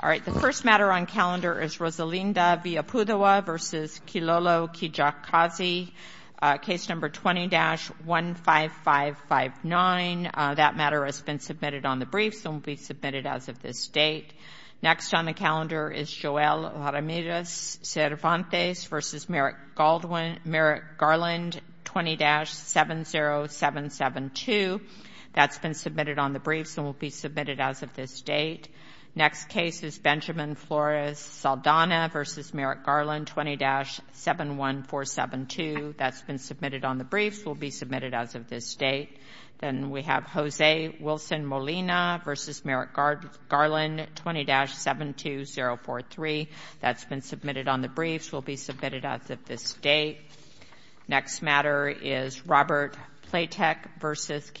All right, the first matter on calendar is Rosalinda Villapudoa v. Kilolo Kijakazi, case number 20-15559. That matter has been submitted on the briefs and will be submitted as of this date. Next on the calendar is Joelle Ramirez Cervantes v. Merritt Garland, 20-70772. That's been submitted on the briefs and will be submitted as of this date. Next case is Benjamin Flores Saldana v. Merritt Garland, 20-71472. That's been submitted on the briefs and will be submitted as of this date. Then we have Jose Wilson Molina v. Merritt Garland, 20-72043. That's been submitted on the briefs and will be submitted as of this date. Next matter is Robert Platek v.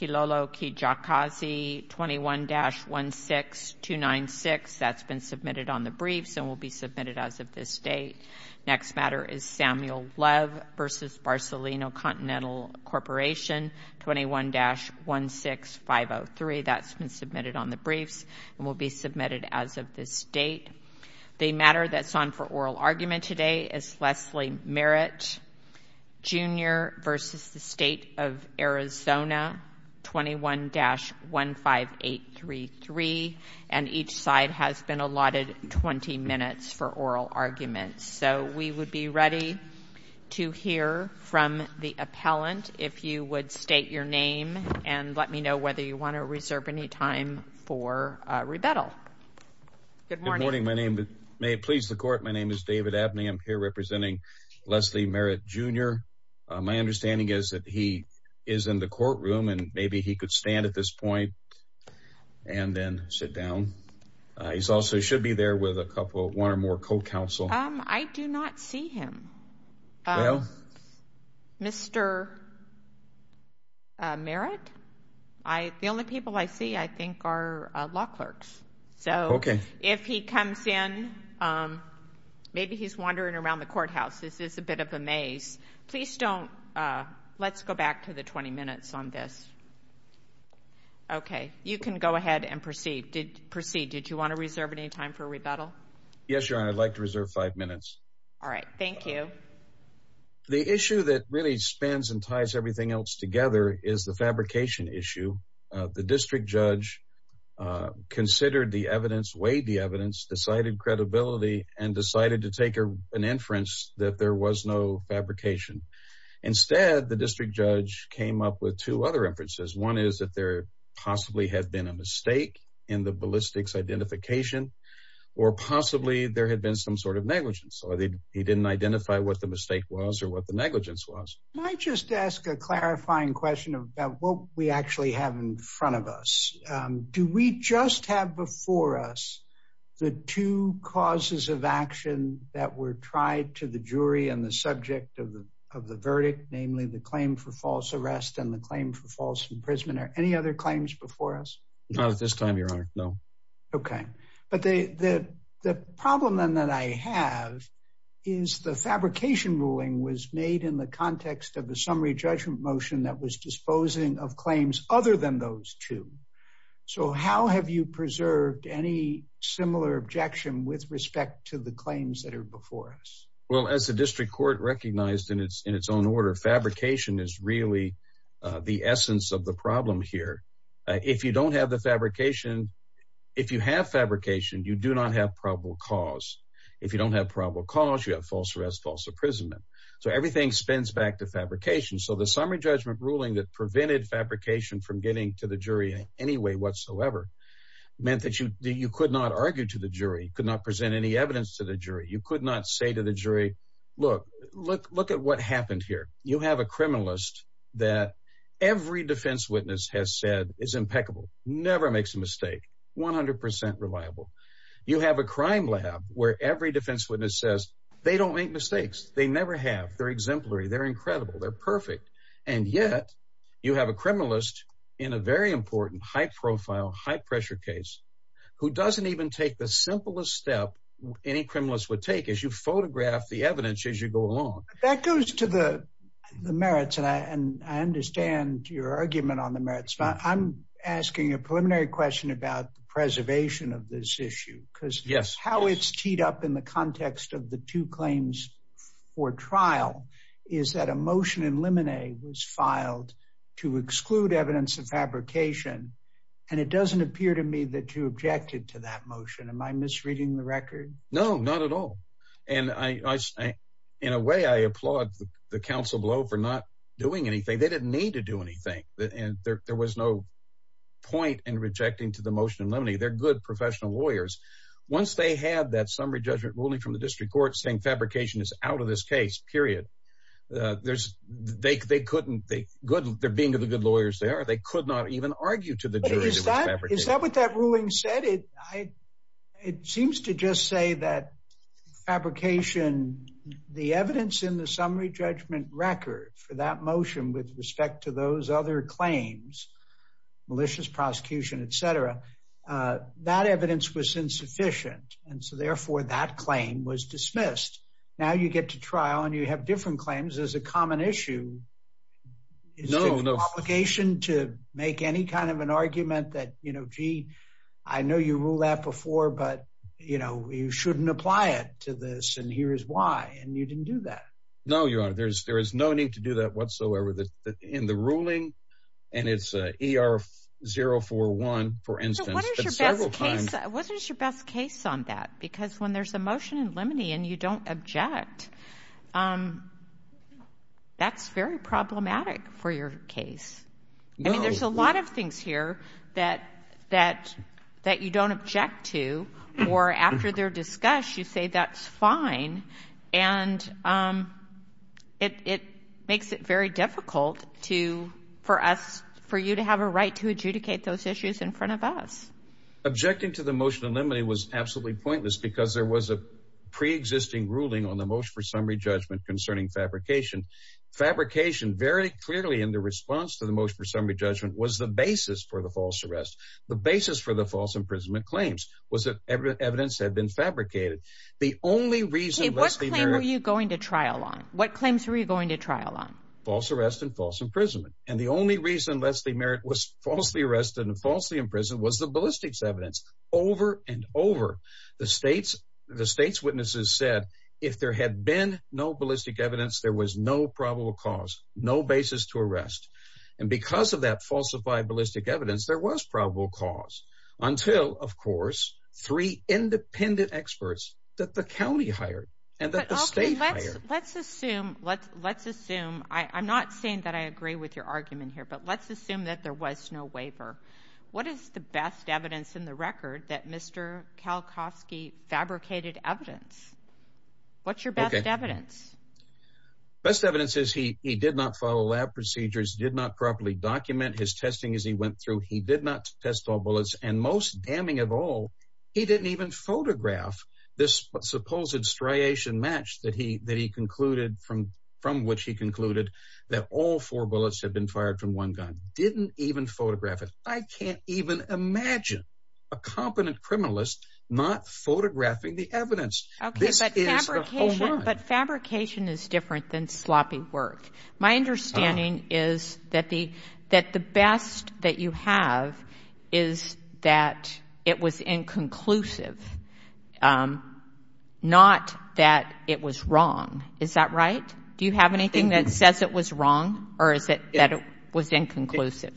Kilolo Kijakazi, 21-16296. That's been submitted on the briefs and will be submitted as of this date. Next matter is Samuel Love v. Barcelona Continental Corporation, 21-16503. That's been submitted on the briefs and will be submitted as of this date. The matter that's on for oral argument today is Leslie Merritt Jr. v. State of Arizona, 21-15833. And each side has been allotted 20 minutes for oral argument. So we would be ready to hear from the appellant if you would state your name and let me know whether you want to please the court. My name is David Abney. I'm here representing Leslie Merritt Jr. My understanding is that he is in the courtroom and maybe he could stand at this point and then sit down. He also should be there with one or more co-counsel. I do not see him, Mr. Merritt. The only people I see, I think, are law clerks. So if he comes in, maybe he's wandering around the courthouse. This is a bit of a maze. Let's go back to the 20 minutes on this. Okay, you can go ahead and proceed. Did you want to reserve any time for rebuttal? Yes, Your Honor. I'd like to reserve five minutes. All right. Thank you. The issue that really spans and ties everything else together is the fabrication issue. The district judge considered the evidence, weighed the evidence, decided credibility, and decided to take an inference that there was no fabrication. Instead, the district judge came up with two other inferences. One is that there possibly had been a mistake in the ballistics identification or possibly there had been some sort of negligence. He didn't identify what the mistake was or what the negligence was. Can I just ask a clarifying question about what we actually have in front of us? Do we just have before us the two causes of action that were tried to the jury and the subject of the verdict, namely the claim for false arrest and the claim for false imprisonment? Are there any other claims before us? Not at this time, Your Honor. No. Okay. But the problem then that I have is the fabrication ruling was made in the context of the summary judgment motion that was disposing of claims other than those two. So how have you preserved any similar objection with respect to the claims that are before us? Well, as the district court recognized in its own order, fabrication is really the essence of the problem here. If you don't have the fabrication, if you have fabrication, you do not have probable cause. If you don't have probable cause, you have false arrest, false imprisonment. So everything spins back to fabrication. So the summary judgment ruling that prevented fabrication from getting to the jury in any way whatsoever meant that you could not argue to the jury, could not present any evidence to the jury. You could not say to the jury that every defense witness has said is impeccable, never makes a mistake, 100% reliable. You have a crime lab where every defense witness says they don't make mistakes. They never have. They're exemplary. They're incredible. They're perfect. And yet you have a criminalist in a very important, high profile, high pressure case who doesn't even take the simplest step any criminalist would take as you photograph the evidence as you go along. That goes to the merits. And I understand your argument on the merits. I'm asking a preliminary question about the preservation of this issue because how it's teed up in the context of the two claims for trial is that a motion in limine was filed to exclude evidence of fabrication. And it doesn't appear to me that you objected to that motion. Am I misreading the record? No, not at all. And in a way, I applaud the counsel below for not doing anything. They didn't need to do anything. And there was no point in rejecting to the motion in limine. They're good professional lawyers. Once they had that summary judgment ruling from the district court saying fabrication is out of this case, period, they couldn't. They're being of the good lawyers they are. They could not even argue to the jury that it was fabrication. Is that what that ruling said? It seems to just say that fabrication, the evidence in the summary judgment record for that motion with respect to those other claims, malicious prosecution, et cetera, that evidence was insufficient. And so therefore, that claim was dismissed. Now you get to trial and you have different claims as a common issue. Is it an obligation to make any kind of an argument that, gee, I know you ruled that before, but you shouldn't apply it to this and here is why. And you didn't do that. No, Your Honor, there is no need to do that whatsoever. In the ruling, and it's ER-041, for instance, several times. What is your best case on that? Because when there's a motion in limine and you don't object, that's very problematic for your case. I mean, there's a lot of things here that you don't object to or after their discuss, you say that's fine. And it makes it very difficult for us, for you to have a right to adjudicate those issues in front of us. Objecting to the motion in limine was absolutely pointless because there was a pre-existing ruling on the motion for summary judgment concerning fabrication. Fabrication very clearly in the response to the motion for summary judgment was the basis for the false arrest. The basis for the false imprisonment claims was that evidence had been fabricated. The only reason- Hey, what claim were you going to trial on? What claims were you going to trial on? False arrest and false imprisonment. And the only reason Leslie Merritt was falsely arrested and falsely imprisoned was the ballistics evidence. Over and over, the state's witnesses said, if there had been no ballistic evidence, there was no probable cause, no basis to arrest. And because of that falsified ballistic evidence, there was probable cause until of course, three independent experts that the county hired and that the state hired. Let's assume, I'm not saying that I agree with your argument here, but let's assume that there was no waiver. What is the best evidence in the record that Mr. Kalkofsky fabricated evidence? What's your best evidence? Best evidence is he did not follow lab procedures, did not properly document his testing as he went through. He did not test all bullets and most damning of all, he didn't even photograph this supposed striation match that he concluded from which he concluded that all four bullets had been fired from one gun. Didn't even photograph it. I can't even imagine a competent criminalist not photographing the evidence. Okay, but fabrication is different than sloppy work. My understanding is that the best that you have is that it was inconclusive, not that it was wrong. Is that right? Do you have anything that says it was wrong or is it that it was inconclusive?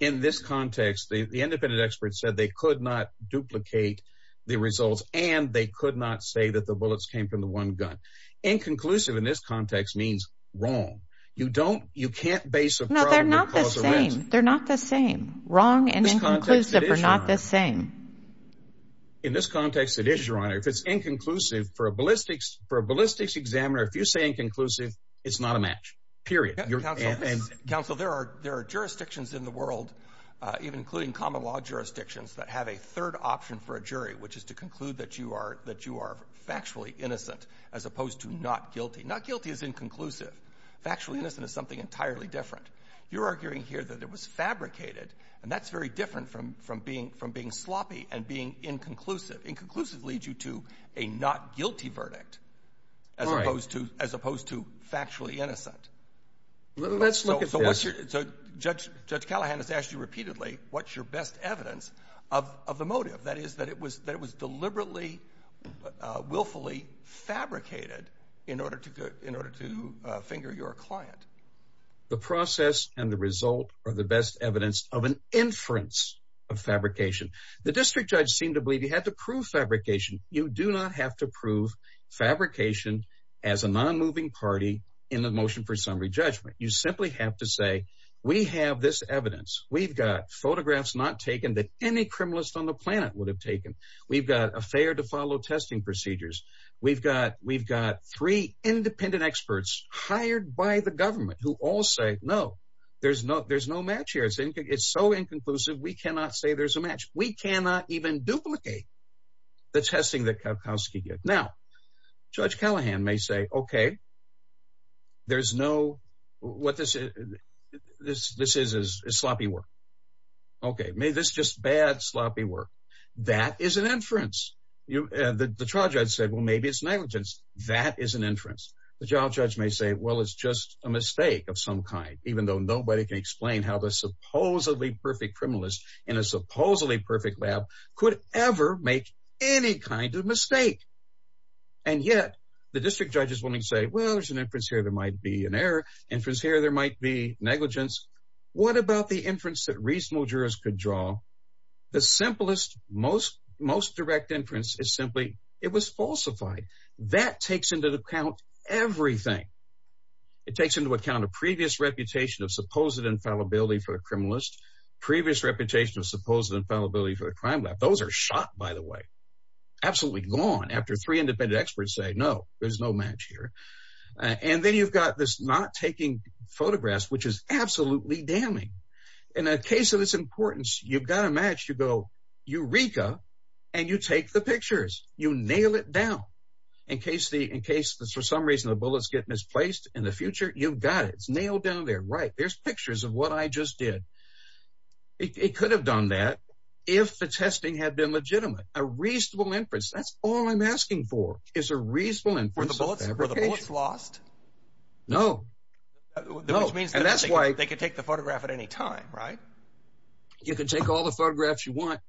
In this context, the independent experts said they could not duplicate the results and they could not say that the bullets came from the one gun. Inconclusive in this context means wrong. You don't, you can't base a... No, they're not the same. Wrong and inconclusive are not the same. In this context, it is, Your Honor. If it's inconclusive for a ballistics, for a ballistics examiner, if you say inconclusive, it's not a match, period. Counsel, there are jurisdictions in the world, even including common law jurisdictions that have a third option for a jury, which is to conclude that you are factually innocent as opposed to not guilty. Not guilty is inconclusive. Factually innocent is something entirely different. You're arguing here that it was fabricated and that's very different from being sloppy and being inconclusive. Inconclusive leads you to a not guilty verdict as opposed to factually innocent. Let's look at this. Judge Callahan has asked you repeatedly, what's your best evidence of the motive? That is, that it was deliberately, willfully fabricated in order to finger your client. The process and the result are the best evidence of an inference of fabrication. The district judge seemed to believe he had to prove fabrication. You do not have to prove fabrication as a non-moving party in the motion for summary judgment. You simply have to say, we have this evidence. We've got photographs not taken that any criminalist on the planet would have taken. We've got a fair to follow testing procedures. We've got three independent experts hired by the government who all say, no, there's no match here. It's so inconclusive, we cannot say there's a match. We cannot even duplicate the testing that Kowalski did. Now, Judge Callahan may say, okay, there's no, what this is, this is sloppy work. Okay, maybe this is just bad sloppy work. That is an inference. The charge I'd say, well, it's negligence. That is an inference. The job judge may say, well, it's just a mistake of some kind, even though nobody can explain how the supposedly perfect criminalist in a supposedly perfect lab could ever make any kind of mistake. And yet the district judge is willing to say, well, there's an inference here. There might be an error inference here. There might be negligence. What about the inference that reasonable jurors could draw? The simplest, most, most direct inference is simply, it was falsified. That takes into account everything. It takes into account a previous reputation of supposed infallibility for a criminalist, previous reputation of supposed infallibility for a crime lab. Those are shot, by the way. Absolutely gone after three independent experts say, no, there's no match here. And then you've got this not taking photographs, which is absolutely damning. In a case of this importance, you've got a match, you go Eureka, and you take the pictures, you nail it down. In case the, in case, for some reason, the bullets get misplaced in the future, you've got it. It's nailed down there, right? There's pictures of what I just did. It could have done that. If the testing had been legitimate, a reasonable inference, that's all I'm asking for is a reasonable inference. Were the bullets lost? No. Which means that they could take the photograph at any time, right? You can take all the photographs you want.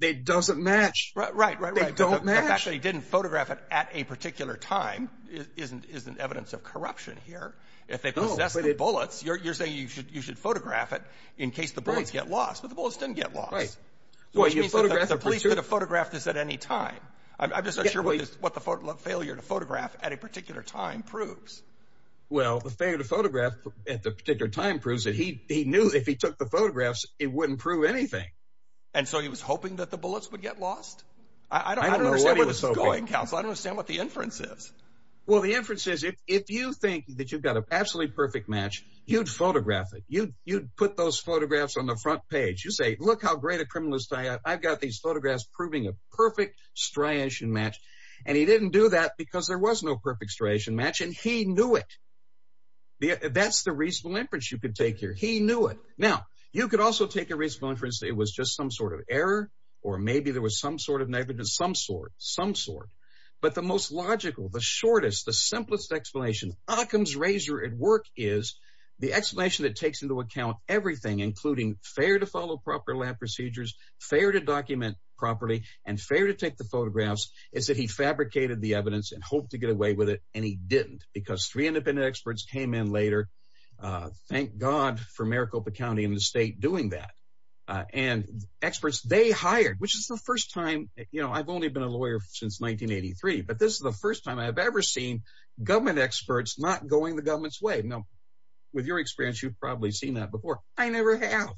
It doesn't match. Right, right, right. They don't match. The fact that he didn't photograph it at a particular time isn't evidence of corruption here. If they possess the bullets, you're saying you should photograph it in case the bullets get lost, but the bullets didn't get lost. Right. Which means that the police could have photographed this at any time. I'm just not sure what the failure to photograph at a particular time proves. Well, the failure to photograph at the particular time proves that he knew if he took the photographs, it wouldn't prove anything. And so he was hoping that the bullets would get lost? I don't know what he was hoping. I don't understand what the inference is. Well, the inference is if you think that you've got an absolutely perfect match, you'd photograph it. You'd put those photographs on the front page. You say, look how great a criminalist I am. I've got these photographs proving a perfect striation match. And he didn't do that because there was no perfect striation match, and he knew it. That's the reasonable inference you could take here. He knew it. Now, you could also take a reasonable inference that it was just some sort of error, or maybe there was some sort of negligence, some sort, some sort. But the most logical, the shortest, the simplest explanation Occam's razor at work is the explanation that takes into account everything, including fair to follow proper lab procedures, fair to document properly, and fair to take the photographs, is that he fabricated the evidence and hoped to get away with it. And he didn't, because three independent experts came in later. Thank God for Maricopa County and the state doing that. And experts they hired, which is the first time, you know, I've only been a lawyer since 1983, but this is the first time I have ever seen government experts not going the government's way. Now, with your experience, you've probably seen that before. I never have.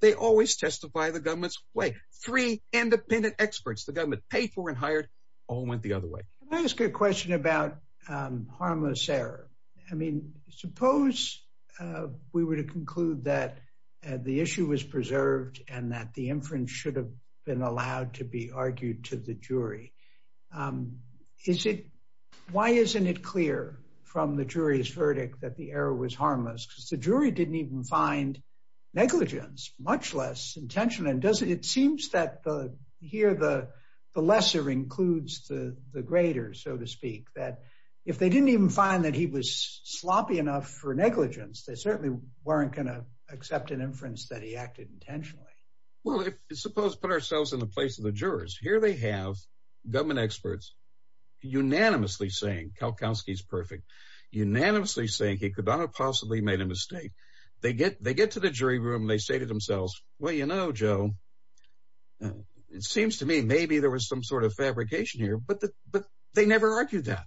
They always testify the government's way. Three good question about harmless error. I mean, suppose we were to conclude that the issue was preserved, and that the inference should have been allowed to be argued to the jury. Is it? Why isn't it clear from the jury's verdict that the error was harmless, because the jury didn't even find negligence, much less intention. And doesn't it seems that the here the lesser includes the greater, so to speak, that if they didn't even find that he was sloppy enough for negligence, they certainly weren't going to accept an inference that he acted intentionally. Well, if suppose put ourselves in the place of the jurors, here they have government experts unanimously saying, Kalkowski's perfect, unanimously saying he could not have possibly made a mistake. They get to the jury room, they say to themselves, well, you know, Joe, it seems to me maybe there was some sort of fabrication here, but they never argued that.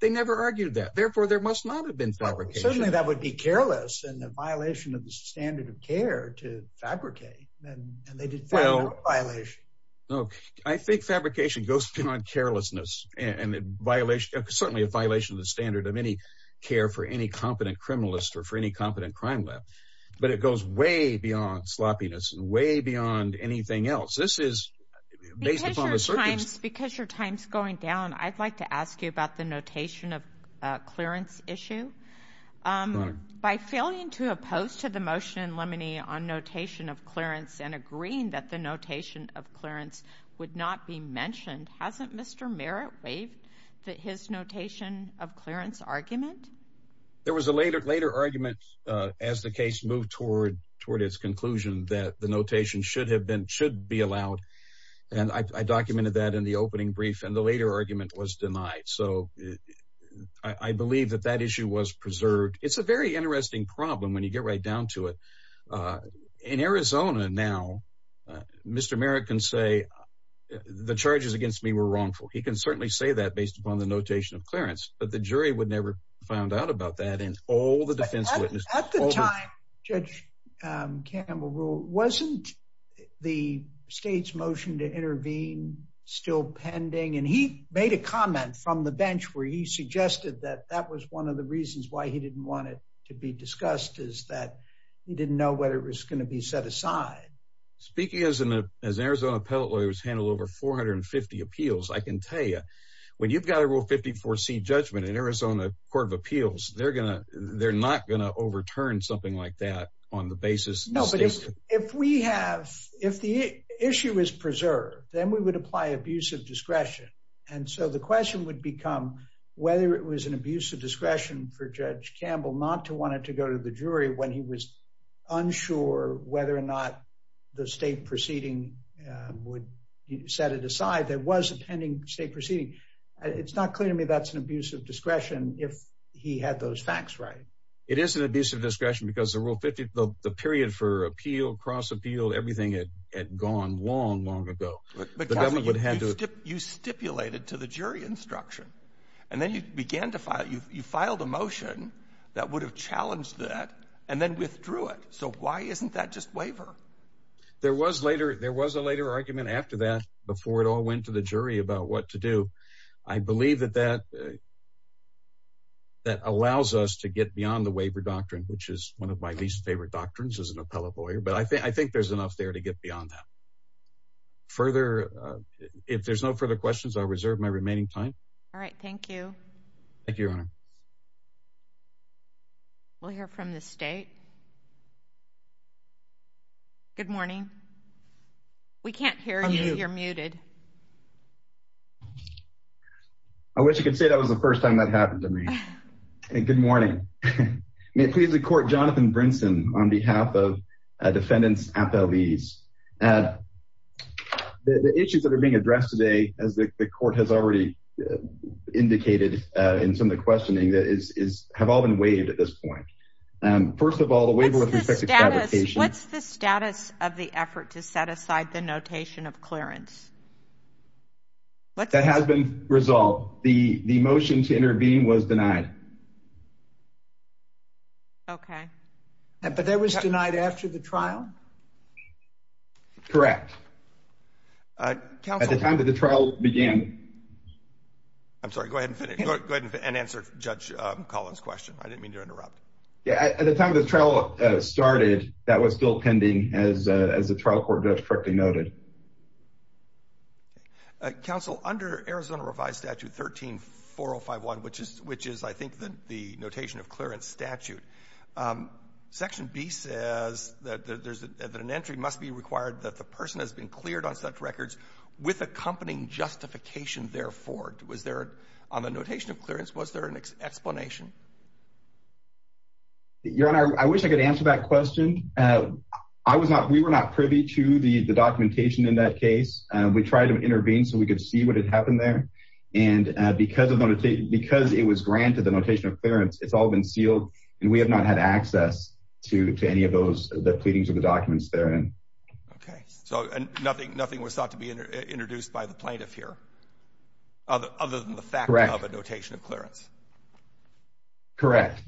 They never argued that. Therefore, there must not have been fabrication. Certainly, that would be careless and a violation of the standard of care to fabricate. I think fabrication goes beyond carelessness and certainly a violation of the standard of any care for any competent criminalist or for any competent crime lab. But it goes way beyond sloppiness and way beyond anything else. This is based upon the circumstances. Because your time's going down, I'd like to ask you about the notation of clearance issue. By failing to oppose to the motion in Lemony on notation of clearance and agreeing that the notation of clearance would not be mentioned, hasn't Mr. Merritt waived his notation of clearance argument? There was a later argument as the case moved toward its conclusion that the notation should be allowed. And I documented that in the opening brief and the later argument was denied. So I believe that that issue was preserved. It's a very interesting problem when you get right down to it. In Arizona now, Mr. Merritt can say the charges against me were wrongful. He can certainly say that based upon the notation of clearance, but the jury would never find out about that and all the defense witnesses. At the time, Judge Campbell ruled, wasn't the state's motion to intervene still pending? And he made a comment from the bench where he suggested that that was one of the reasons why he didn't want it to be discussed is that he didn't know whether it was going to be set aside. Speaking as an Arizona appellate lawyer who's handled over 450 appeals, I can tell you, when you've got a rule 54 C judgment in Arizona Court of Appeals, they're not going to overturn something like that on the basis. No, but if we have, if the issue is preserved, then we would apply abusive discretion. And so the question would become whether it was an abuse of discretion for Judge Campbell not to want it to go to the jury when he was unsure whether or not the state was proceeding. It's not clear to me that's an abuse of discretion if he had those facts right. It is an abuse of discretion because the rule 50, the period for appeal, cross appeal, everything had gone long, long ago. You stipulated to the jury instruction, and then you began to file, you filed a motion that would have challenged that and then withdrew it. So why isn't that just waiver? There was later, there was a later argument after that, before it all went to the jury about what to do. I believe that that allows us to get beyond the waiver doctrine, which is one of my least favorite doctrines as an appellate lawyer, but I think there's enough there to get beyond that. Further, if there's no further questions, I'll reserve my remaining time. All right. Thank you. Thank you, Your Honor. We'll hear from the state. Good morning. We can't hear you. You're muted. I wish you could say that was the first time that happened to me. Good morning. May it please the court, Jonathan Brinson, on behalf of defendants at the lease. The issues that are being addressed today, as the court has already indicated in some of the questioning, have all been waived at this time. What's the status of the effort to set aside the notation of clearance? That has been resolved. The motion to intervene was denied. Okay. But that was denied after the trial? Correct. At the time that the trial began. I'm sorry, go ahead and answer Judge Collins' question. I didn't mean to interrupt. Yeah, at the time the trial started, that was still pending, as the trial court just correctly noted. Counsel, under Arizona Revised Statute 13-4051, which is, I think, the notation of clearance statute, Section B says that an entry must be required that the person has been cleared on such records with accompanying justification, therefore. On the notation of clearance, was there an explanation? Your Honor, I wish I could answer that question. We were not privy to the documentation in that case. We tried to intervene so we could see what had happened there. And because it was granted, the notation of clearance, it's all been sealed, and we have not had access to any of those, the pleadings of the documents therein. Okay. So nothing was thought to be introduced by the plaintiff here, other than the fact of a notation of clearance? Correct.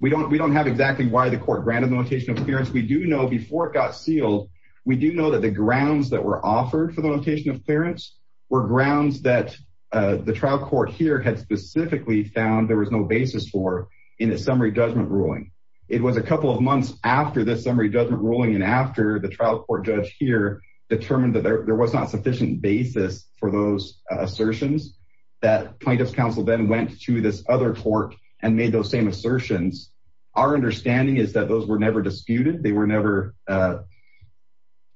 We don't have exactly why the court granted the notation of clearance. We do know before it got sealed, we do know that the grounds that were offered for the notation of clearance were grounds that the trial court here had specifically found there was no basis for in a summary judgment ruling. It was a couple of months after this summary judgment ruling and after the trial court judge here determined that there was not sufficient basis for those assertions, that plaintiff's counsel then went to this other court and made those same assertions. Our understanding is that those were never disputed. They were never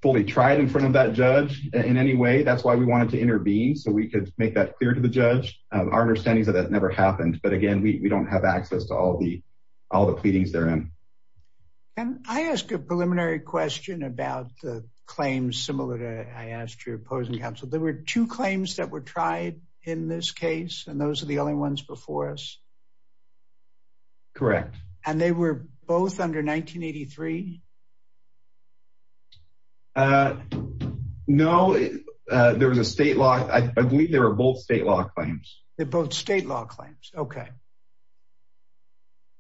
fully tried in front of that judge in any way. That's why we wanted to intervene, so we could make that clear to the judge. Our understanding is that that never happened. But again, we don't have access to all the pleadings therein. And I ask a preliminary question about the claims similar to I asked your opposing counsel. There were two claims that were tried in this case, and those are the only ones before us? Correct. And they were both under 1983? No, there was a state law. I believe there were both state law claims. They're both state law claims. Okay.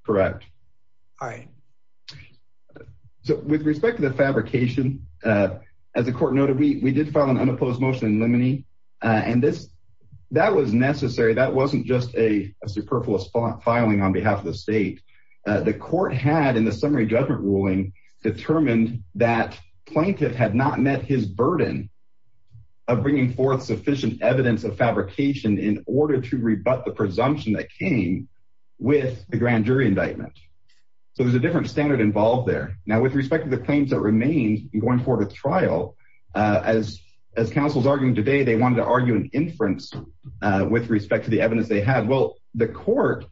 Correct. All right. So with respect to the fabrication, as the court noted, we did file an unopposed motion in limine. And that was necessary. That wasn't just a superfluous filing on behalf of the state. The court had in the summary judgment ruling determined that plaintiff had not met his burden of bringing forth sufficient evidence of fabrication in order to rebut the presumption that came with the grand jury indictment. So there's a different standard involved there. Now, with respect to the claims that remain going forward with trial, as counsel's arguing today, they wanted to argue an inference with respect to the evidence they had. Well, the court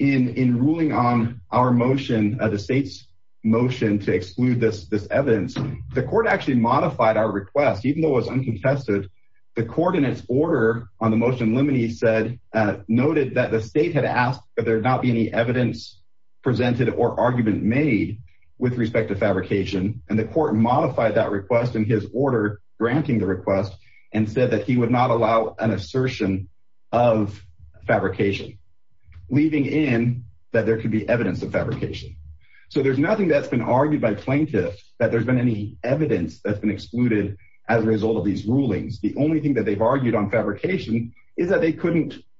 in ruling on our motion, the state's motion to exclude this evidence, the court actually modified our request, even though it was uncontested. The court in its order on the motion limine said, noted that the state had asked, but there'd not be any evidence presented or argument made with respect to fabrication. And the court modified that request in his order, granting the request and said that he would not allow an assertion of fabrication, leaving in that there could be evidence of fabrication. So there's nothing that's been argued by plaintiff that there's been any evidence that's been excluded as a result of these rulings. The only thing that they've argued on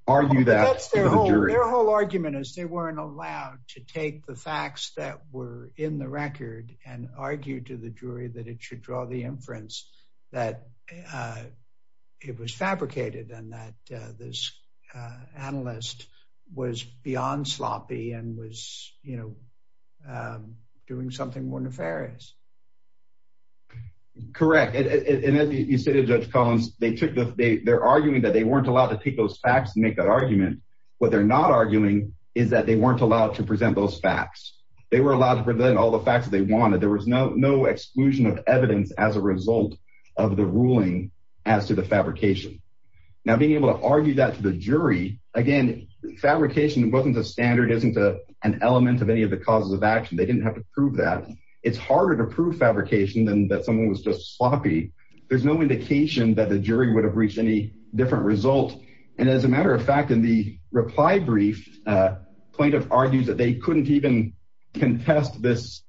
are you that their whole argument is they weren't allowed to take the facts that were in the record and argue to the jury that it should draw the inference that it was fabricated and that this analyst was beyond sloppy and was, you know, doing something more nefarious. Correct. And as you said, Judge Collins, they took the they they're arguing that they weren't allowed to take those facts and make that argument. What they're not arguing is that they weren't allowed to present those facts. They were allowed to prevent all the facts that they wanted. There was no, no exclusion of evidence as a result of the ruling as to the fabrication. Now, being able to argue that to the jury, again, fabrication wasn't a standard, isn't an element of any of the causes of action. They didn't have to prove that it's harder to prove fabrication than that someone was just sloppy. There's no indication that the jury would have reached any different result. And as a matter of fact, in the reply brief, plaintiff argues that they couldn't even contest this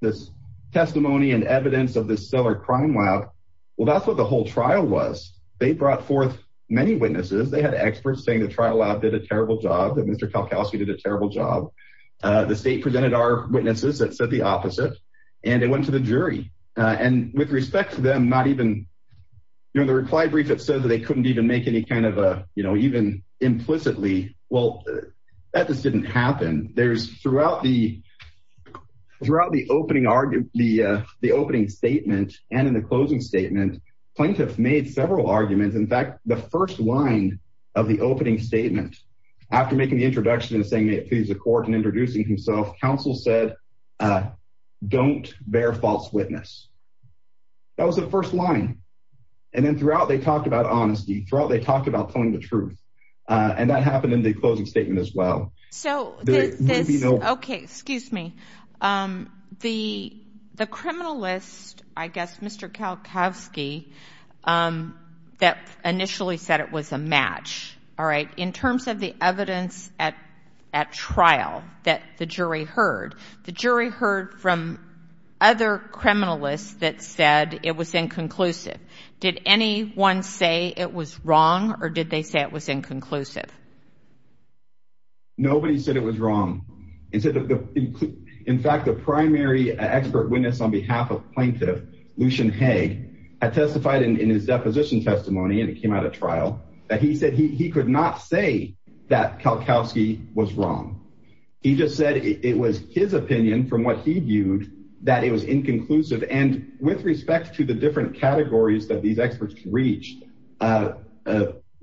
this testimony and evidence of this stellar crime lab. Well, that's what the whole trial was. They brought forth many witnesses. They had experts saying the trial lab did a terrible job, that Mr. Kalkowski did a terrible job. The state presented our witnesses that said the opposite. And it went to the jury. And with respect to them, not even during the reply brief, it said that they couldn't even make any kind of a, you know, even implicitly, well, that just didn't happen. There's throughout the opening argument, the opening statement, and in the closing statement, plaintiff made several arguments. In fact, the first line of the opening statement, after making the introduction and saying, may it please the court and introducing himself, counsel said, don't bear false witness. That was the first line. And then throughout, they talked about honesty. Throughout, they talked about telling the truth. And that happened in the closing statement as well. So, okay, excuse me. The criminalist, I guess, Mr. Kalkowski, that initially said it was a match, all right, in terms of the evidence at trial that the jury heard. The jury heard from other criminalists that said it was inconclusive. Did anyone say it was wrong, or did they say it was inconclusive? Nobody said it was wrong. In fact, the primary expert witness on behalf of plaintiff, Lucian Haag, testified in his deposition testimony, and it came out of trial, that he said he could not say that Kalkowski was wrong. He just said it was his opinion from what he viewed, that it was inconclusive. And with respect to the different categories that these experts reached,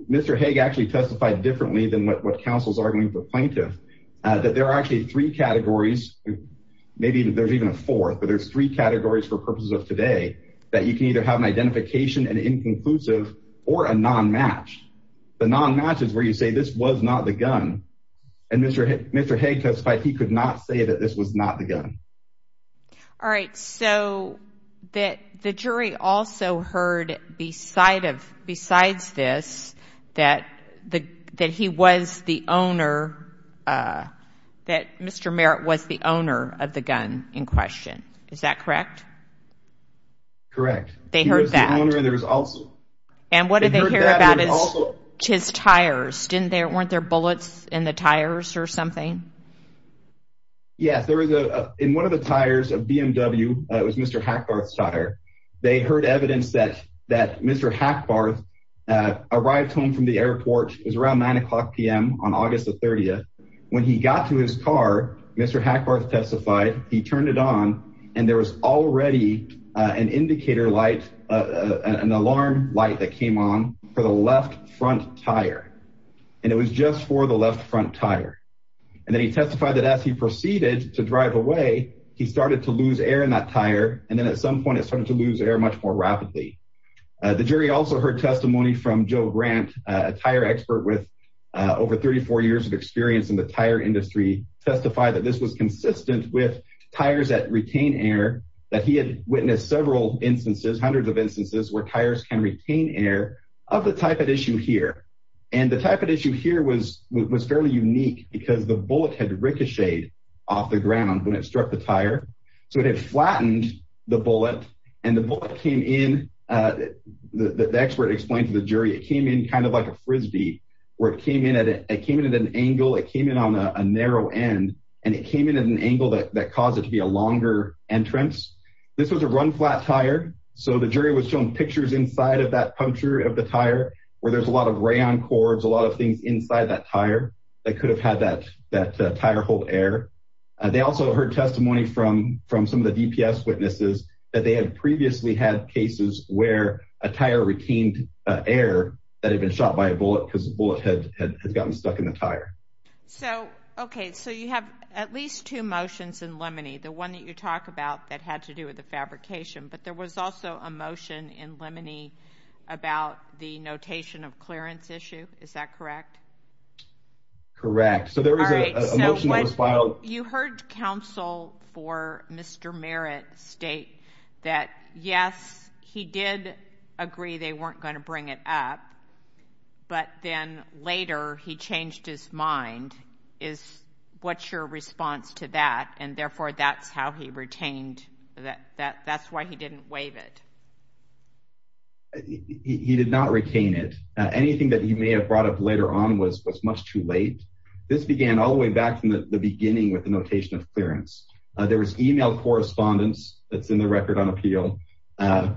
Mr. Haag actually testified differently than what counsel's arguing for plaintiff, that there are actually three categories, maybe there's even a fourth, but there's three categories for purposes of today, that you can either have an identification and inconclusive or a non-match. The non-match is where you say this was not the gun, and Mr. Haag testified he could not say that this was not the gun. All right, so that the jury also heard besides this, that he was the owner, that Mr. Merritt was the owner of the gun in question, is that correct? Correct. They heard that. And what did they hear about his tires? Weren't there bullets in the tires or something? Yes, in one of the tires of BMW, it was Mr. Hackbarth's tire, they heard evidence that Mr. Hackbarth arrived home from the airport, it was around 9 o'clock PM on August the 30th, when he got to his car, Mr. Hackbarth testified, he turned it on, and there was already an indicator light, an alarm light that came on for the left front tire, and it was just for the left front tire. And then he testified that as he proceeded to drive away, he started to lose air in that tire, and then at some point it started to lose air much more rapidly. The jury also heard testimony from Joe Grant, a tire expert with over 34 years of experience, that he had witnessed several instances, hundreds of instances where tires can retain air of the type at issue here. And the type of issue here was fairly unique because the bullet had ricocheted off the ground when it struck the tire, so it had flattened the bullet, and the bullet came in, the expert explained to the jury, it came in kind of like a frisbee, where it came in at an angle, it came in on a narrow end, and it came in at an angle that caused it to be a longer entrance. This was a run-flat tire, so the jury was shown pictures inside of that puncture of the tire, where there's a lot of rayon cords, a lot of things inside that tire that could have had that tire hold air. They also heard testimony from some of the DPS witnesses that they had previously had cases where a tire retained air that had been shot by a bullet because the bullet had gotten stuck in the tire. So, okay, so you have at least two motions in Lemony, the one that you talk about that had to do with the fabrication, but there was also a motion in Lemony about the notation of clearance issue, is that correct? Correct, so there was a motion that was filed. You heard counsel for Mr. Merritt state that yes, he did agree they weren't going to bring it up, but then later he changed his mind. What's your response to that? And therefore, that's how he retained that. That's why he didn't waive it. He did not retain it. Anything that he may have brought up later on was much too late. This began all the way back from the beginning with the notation of clearance. There was email correspondence that's in the record on appeal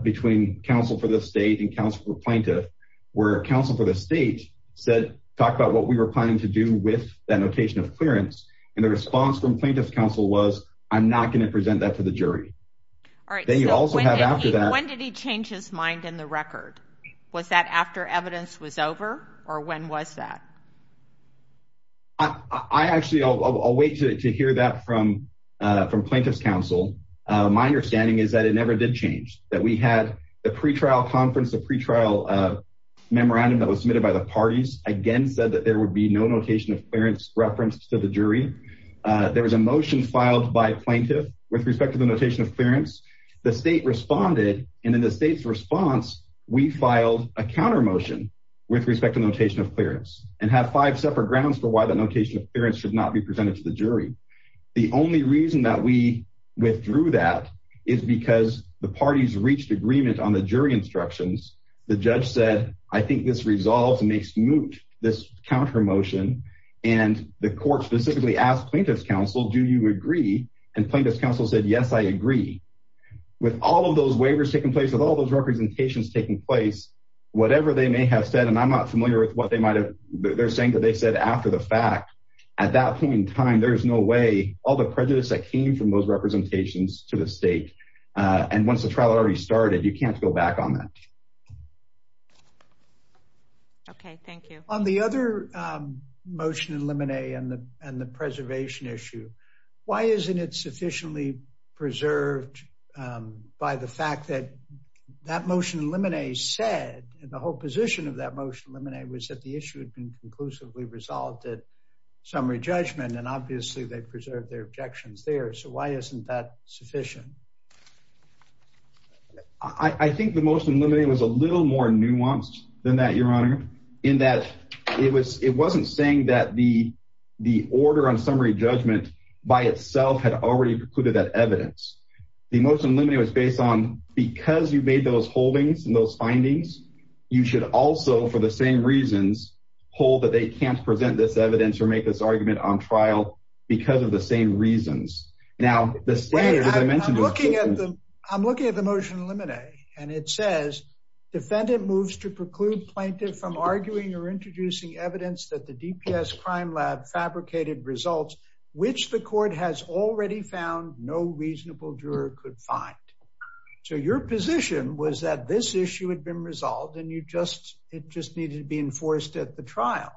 between counsel for the state and counsel for plaintiff, where counsel for the state said talk about what we were planning to do with that notation of clearance. And the response from plaintiff's counsel was, I'm not going to present that to the jury. All right, then you also have after that. When did he change his mind in the record? Was that after evidence was over or when was that? I actually, I'll wait to hear that from plaintiff's counsel. My understanding is that it never did change that we had the pre-trial conference, a pre-trial memorandum that was submitted by the parties again, said that there would be no notation of clearance reference to the jury. There was a motion filed by plaintiff with respect to the notation of clearance. The state responded. And in the state's response, we filed a counter motion with respect to the notation of clearance and have five separate grounds for why the notation of clearance should not be presented to the jury. The only reason that we withdrew that is because the parties reached agreement on the jury instructions. The judge said, I think this resolves and makes moot this counter motion. And the court specifically asked plaintiff's counsel, do you agree? And plaintiff's counsel said, yes, I agree with all of those waivers taking place with all those representations taking place, whatever they may have said. And I'm not familiar with what they they're saying that they said after the fact. At that point in time, there is no way all the prejudice that came from those representations to the state. And once the trial already started, you can't go back on that. Okay, thank you. On the other motion and lemonade and the preservation issue. Why isn't it sufficiently preserved by the fact that that motion eliminate said and the whole position of that motion eliminate was that the issue had been conclusively resolved at summary judgment. And obviously they preserved their objections there. So why isn't that sufficient? I think the motion limiting was a little more nuanced than that, your honor, in that it was, it wasn't saying that the, the order on summary judgment by itself had already precluded that evidence. The motion limit was based on because you made those holdings and those findings, you should also for the same reasons, hold that they can't present this evidence or make this argument on trial because of the same reasons. Now, I'm looking at the motion eliminate, and it says defendant moves to preclude plaintiff from arguing or introducing evidence that the DPS crime lab fabricated results, which the court has already found no reasonable juror could find. So your position was that this issue had been resolved and you just, it just needed to be enforced at the trial.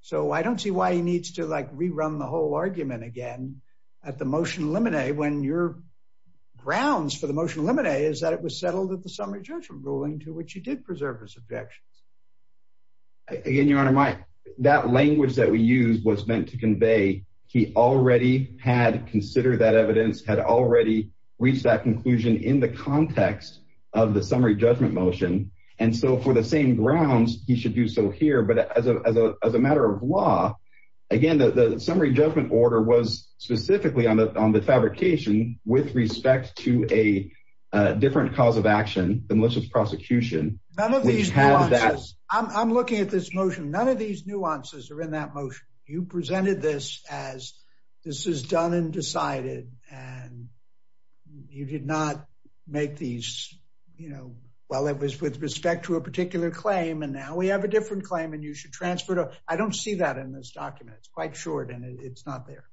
So I don't see why he needs to like rerun the whole argument again at the motion eliminate when your grounds for the motion eliminate is that it was settled at the summary judgment ruling to which you did preserve his objections. Again, your honor, my, that language that we use was meant to convey. He already had considered that evidence had already reached that conclusion in the context of the summary judgment motion. And so for the same grounds, he should do so here, but as a, as a, as a matter of law, again, the summary judgment order was specifically on the, on the fabrication with respect to a different cause of action, the malicious prosecution. I'm looking at this motion. None of these nuances are in that motion. You presented this as this is done and decided, and you did not make these, you know, well, it was with respect to a particular claim. And now we have a different claim and you should transfer to, I don't see that in this document. It's quite short and it's not there.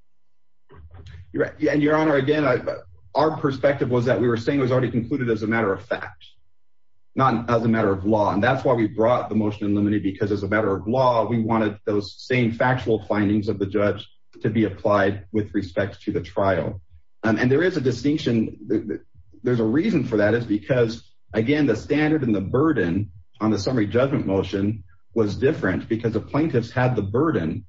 You're right. And your honor, again, our perspective was that we were saying it was already concluded as a matter of fact, not as a matter of law. And that's why we brought the because as a matter of law, we wanted those same factual findings of the judge to be applied with respect to the trial. And there is a distinction. There's a reason for that is because again, the standard and the burden on the summary judgment motion was different because the plaintiffs had the burden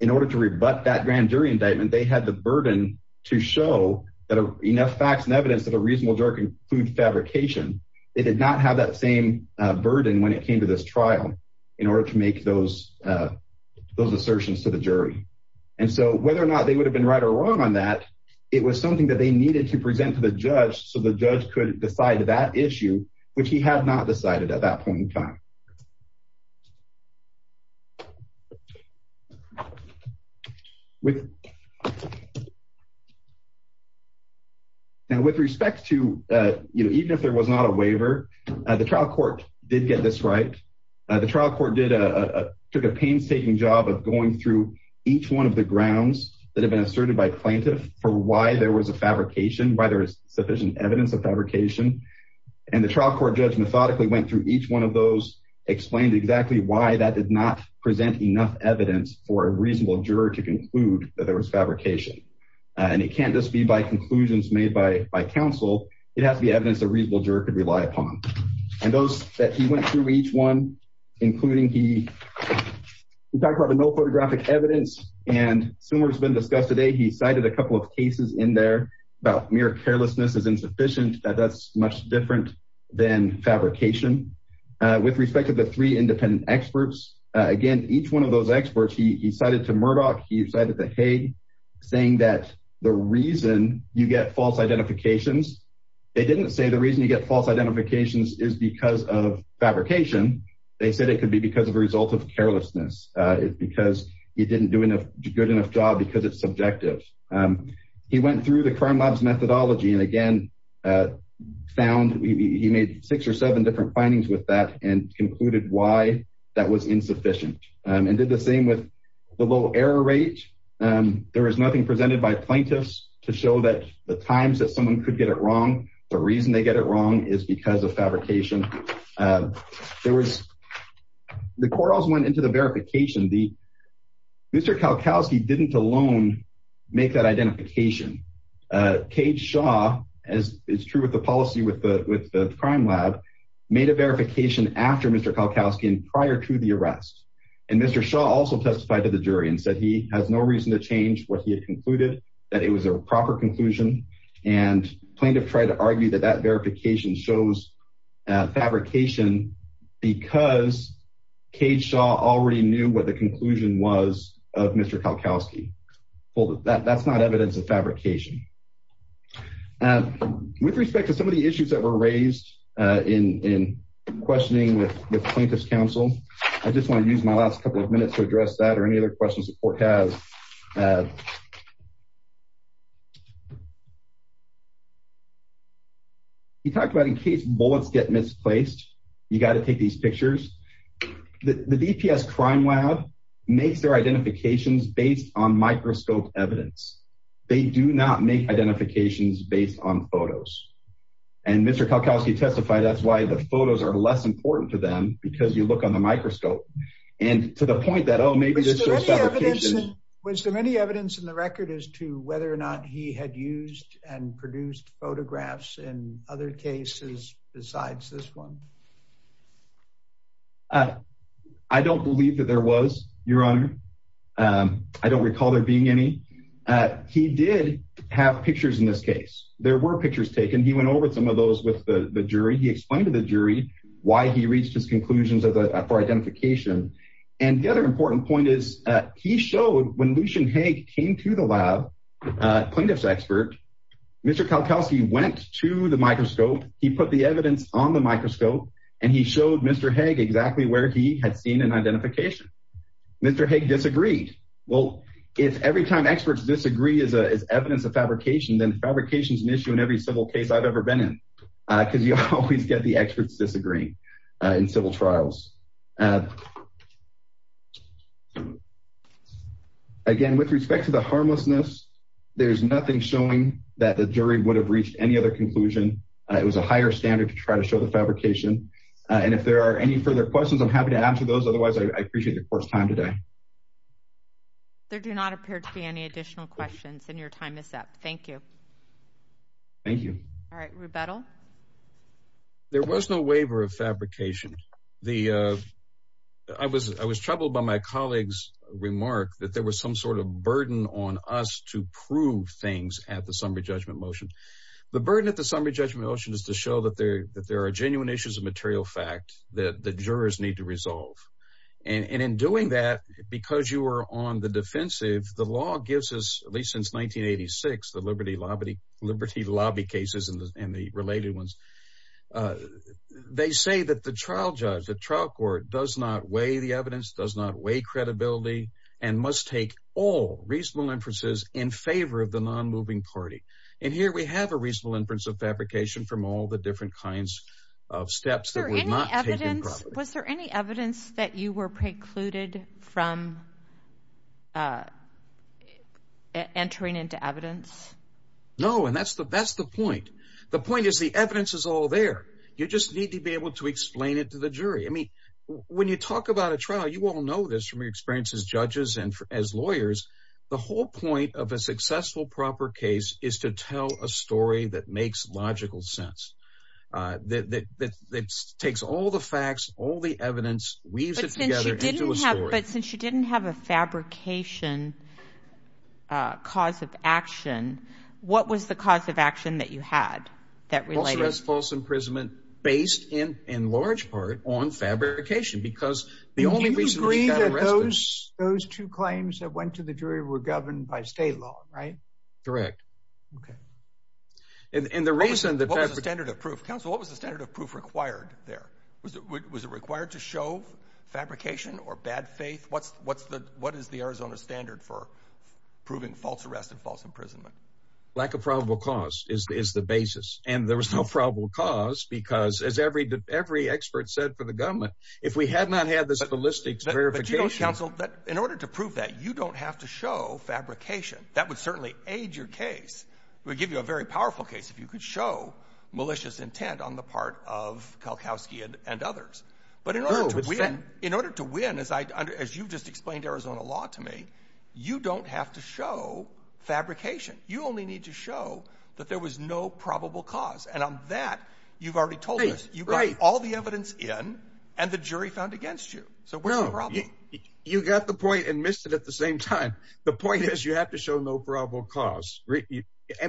in order to rebut that grand jury indictment. They had the burden to show that enough facts and evidence that a reasonable jerk and food fabrication, it did not have that same when it came to this trial in order to make those those assertions to the jury. And so whether or not they would have been right or wrong on that, it was something that they needed to present to the judge. So the judge could decide that issue, which he had not decided at that point in time. Okay. Now, with respect to, you know, even if there was not a waiver, the trial court did get this right. The trial court did a painstaking job of going through each one of the grounds that have been asserted by plaintiff for why there was a fabrication by there is sufficient evidence of fabrication. And the trial court judge methodically went through each one of those explained exactly why that did not present enough evidence for a reasonable juror to conclude that there was fabrication. And it can't just be by conclusions made by, by council. It has to be evidence that reasonable jerk could rely upon. And those that he went through each one, including he talked about the no photographic evidence and similar has been discussed today. He cited a couple of cases in there about mere carelessness is insufficient that that's much different than fabrication with respect to the three independent experts. Again, each one of those experts, he cited to Murdoch. He decided that, Hey, saying that the reason you get false identifications, they didn't say the reason you get false identifications is because of fabrication. They said it could be because of the result of carelessness. It's because he didn't do enough good enough job because it's subjective. He went through the crime labs methodology. And again, found he made six or seven different findings with that and concluded why that was insufficient and did the same with the low error rate. There was nothing presented by plaintiffs to show that the times that someone could get it wrong. The reason they get it wrong is because of fabrication. There was the quarrels went into the verification. The Mr. Kalkowski didn't alone make that identification. Cage Shaw, as is true with the policy with the crime lab, made a verification after Mr. Kalkowski and prior to the arrest. And Mr. Shaw also testified to the jury and said he has no reason to change what he had concluded that it was a proper conclusion. And plaintiff tried to argue that that verification shows fabrication because Cage already knew what the conclusion was of Mr. Kalkowski. That's not evidence of fabrication. With respect to some of the issues that were raised in questioning with plaintiff's counsel, I just want to use my last couple of minutes to address that or any other questions the court has. He talked about in case bullets get misplaced, you got to take these pictures. The DPS crime lab makes their identifications based on microscope evidence. They do not make identifications based on photos. And Mr. Kalkowski testified that's why the photos are less important to them because you look on the microscope. And to the point that, oh, maybe Was there any evidence in the record as to whether or not he had used and produced photographs in other cases besides this one? I don't believe that there was, Your Honor. I don't recall there being any. He did have pictures in this case. There were pictures taken. He went over some of those with the jury. He explained to the jury why he reached his conclusions for identification. And the other important point is he showed when Lucian Haig came to the lab, plaintiff's expert, Mr. Kalkowski went to the where he had seen an identification. Mr. Haig disagreed. Well, if every time experts disagree is evidence of fabrication, then fabrication is an issue in every civil case I've ever been in. Because you always get the experts disagreeing in civil trials. Again, with respect to the harmlessness, there's nothing showing that the jury would have reached any other conclusion. It was a higher standard to try to show the fabrication. And if there are any further questions, I'm happy to answer those. Otherwise, I appreciate the court's time today. There do not appear to be any additional questions and your time is up. Thank you. Thank you. All right. Rebuttal. There was no waiver of fabrication. I was troubled by my colleague's remark that there was some sort of burden on us to prove things at the summary judgment motion. The burden at the summary judgment motion is to show that there are genuine issues of material fact that the jurors need to resolve. And in doing that, because you were on the defensive, the law gives us, at least since 1986, the Liberty Lobby cases and the related ones. They say that the trial judge, the trial court, does not weigh the evidence, does not weigh credibility, and must take all reasonable inferences in favor of the non-moving party. And here we have a reasonable inference of fabrication from all the different kinds of steps that were not taken properly. Was there any evidence that you were precluded from entering into evidence? No. And that's the point. The point is the evidence is all there. You just need to be able to explain it to the jury. I mean, when you talk about a trial, you all know this from your experience as judges and as lawyers, the whole point of a successful proper case is to tell a story that makes logical sense, that takes all the facts, all the evidence, weaves it together into a story. But since you didn't have a fabrication cause of action, what was the cause of action that you had? False arrest, false imprisonment, based in large part on fabrication, because the only reason... Do you agree that those two claims that went to the jury were governed by state law, right? Correct. Okay. And the reason that... What was the standard of proof? Counsel, what was the standard of proof required there? Was it required to show fabrication or bad faith? What is the Arizona standard for proving false arrest and false imprisonment? Lack of probable cause is the basis. And there was no probable cause because, as every expert said for the government, if we had not had this verification... But you know, Counsel, in order to prove that, you don't have to show fabrication. That would certainly aid your case. It would give you a very powerful case if you could show malicious intent on the part of Kalkowski and others. But in order to win, as you've just explained Arizona law to me, you don't have to show fabrication. You only need to show that there was no probable cause. And on that, you've already told us, you got all the evidence in and the jury found against you. So what's the problem? No. You got the point and missed it at the same time. The point is you have to show no probable cause.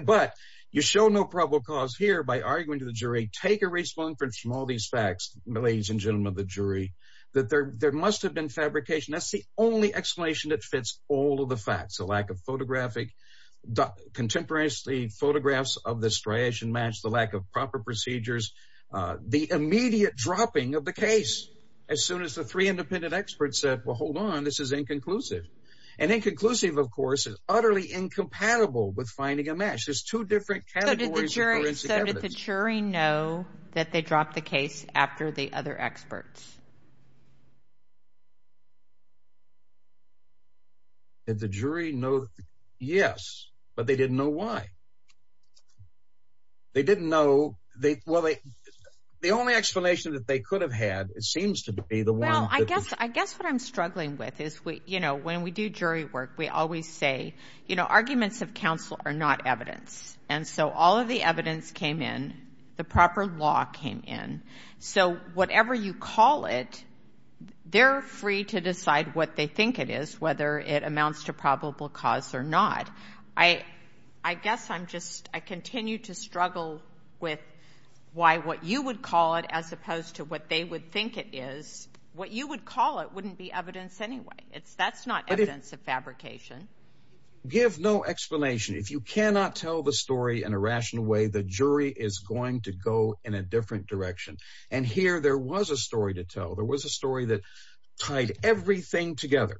But you show no probable cause here by arguing to the jury, take a response from all these facts, ladies and gentlemen of the jury, that there must have been fabrication. That's the only explanation that fits all of the facts. The lack of photographic... Contemporary photographs of the striation match, the lack of proper procedures, the immediate dropping of the case as soon as the three independent experts said, well, hold on, this is inconclusive. And inconclusive, of course, is utterly incompatible with finding a match. There's two different categories of forensic evidence. So did the jury know that they dropped the case after the other experts? Did the jury know? Yes, but they didn't know why. They didn't know. Well, the only explanation that they could have had, it seems to be the one... Well, I guess what I'm struggling with is when we do jury work, we always say, arguments of counsel are not evidence. And so all of the evidence came in, the proper law came in. So whatever you call a jury, whether it's a jury or not, if you call it, they're free to decide what they think it is, whether it amounts to probable cause or not. I guess I'm just... I continue to struggle with why what you would call it as opposed to what they would think it is, what you would call it wouldn't be evidence anyway. That's not evidence of fabrication. Give no explanation. If you cannot tell the story in a rational way, the jury is going to go in a different direction. And here there was a story to tell. There was a story that tied everything together.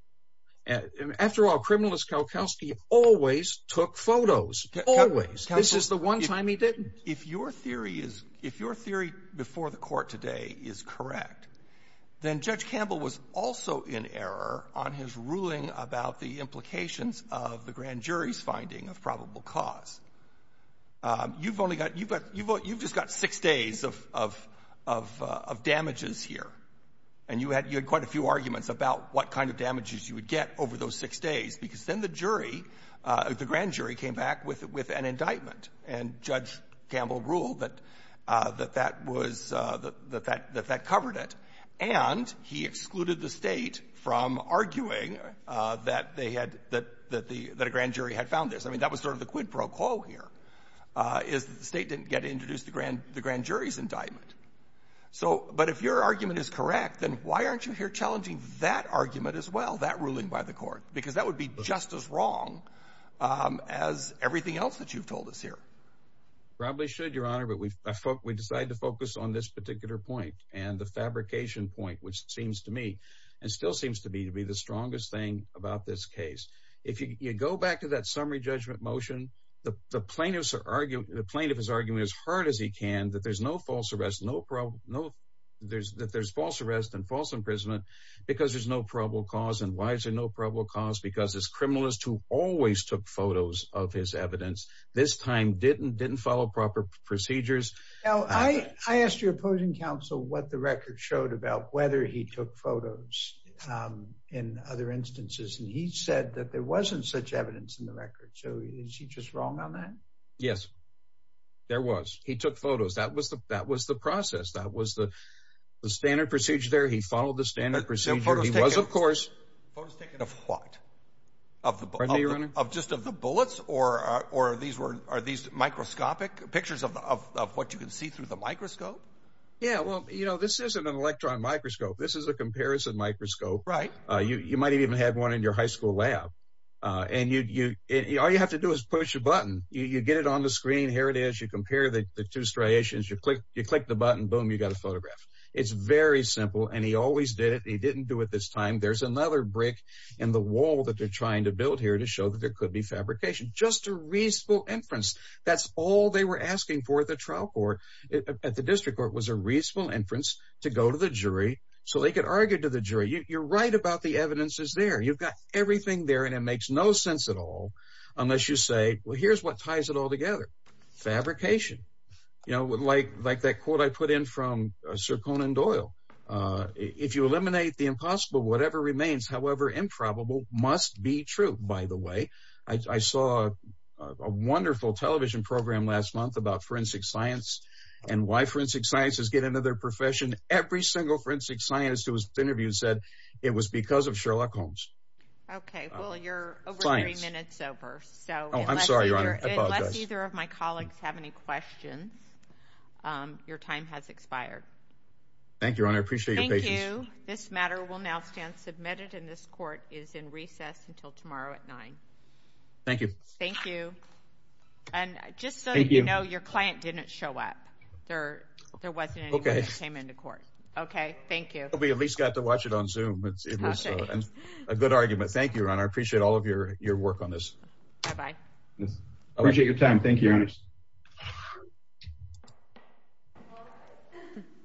After all, criminalist Kowalkowski always took photos. Always. This is the one time he didn't. If your theory is... If your theory before the court today is correct, then Judge Campbell was also in error on his ruling about the implications of the grand jury's finding of probable cause. You've only got... You've just got six days of damages here. And you had quite a few arguments about what kind of damages you would get over those six days, because then the jury, the grand jury, came back with an indictment. And Judge Campbell ruled that that was... That that covered it. And he excluded the State from arguing that they had... That a grand jury had found this. That was the quid pro quo here, is that the State didn't get to introduce the grand jury's indictment. But if your argument is correct, then why aren't you here challenging that argument as well, that ruling by the court? Because that would be just as wrong as everything else that you've told us here. Probably should, Your Honor. But we decided to focus on this particular point, and the fabrication point, which seems to me, and still seems to me, to be the strongest thing about this case. If you go back to that summary judgment motion, the plaintiff's argument... The plaintiff is arguing as hard as he can that there's no false arrest, no problem, no... That there's false arrest and false imprisonment, because there's no probable cause. And why is there no probable cause? Because this criminalist who always took photos of his evidence, this time didn't follow proper procedures. Now, I asked your opposing counsel what the He said that there wasn't such evidence in the record. So is he just wrong on that? Yes, there was. He took photos. That was the process. That was the standard procedure there. He followed the standard procedure. He was, of course... Photos taken of what? Pardon me, Your Honor. Of just of the bullets, or are these microscopic pictures of what you can see through the microscope? Yeah, well, you know, this isn't an electron microscope. This is a comparison microscope. Right. You might even have one in your high school lab. And all you have to do is push a button. You get it on the screen. Here it is. You compare the two striations. You click the button. Boom, you got a photograph. It's very simple. And he always did it. He didn't do it this time. There's another brick in the wall that they're trying to build here to show that there could be fabrication. Just a reasonable inference. That's all they were asking for at the trial court. At the district court, it was a reasonable inference to go to the jury so they could argue to the jury. You're right about the evidence is there. You've got everything there, and it makes no sense at all unless you say, well, here's what ties it all together. Fabrication. You know, like that quote I put in from Sir Conan Doyle. If you eliminate the impossible, whatever remains, however improbable, must be true. By the way, I saw a wonderful television program last month about forensic science and why forensic sciences get into their profession. Every single forensic scientist who was interviewed said it was because of Sherlock Holmes. Okay, well, you're over three minutes over, so I'm sorry, Your Honor. Unless either of my colleagues have any questions, your time has expired. Thank you, Your Honor. I appreciate your patience. Thank you. This matter will now stand submitted, and this court is in recess until tomorrow at nine. Thank you. Thank you. And just so you know, your client didn't show up. There wasn't anyone that came into court. Okay, thank you. We at least got to watch it on Zoom. It was a good argument. Thank you, Your Honor. I appreciate all of your work on this. Bye-bye. I appreciate your time. Thank you, Your Honor.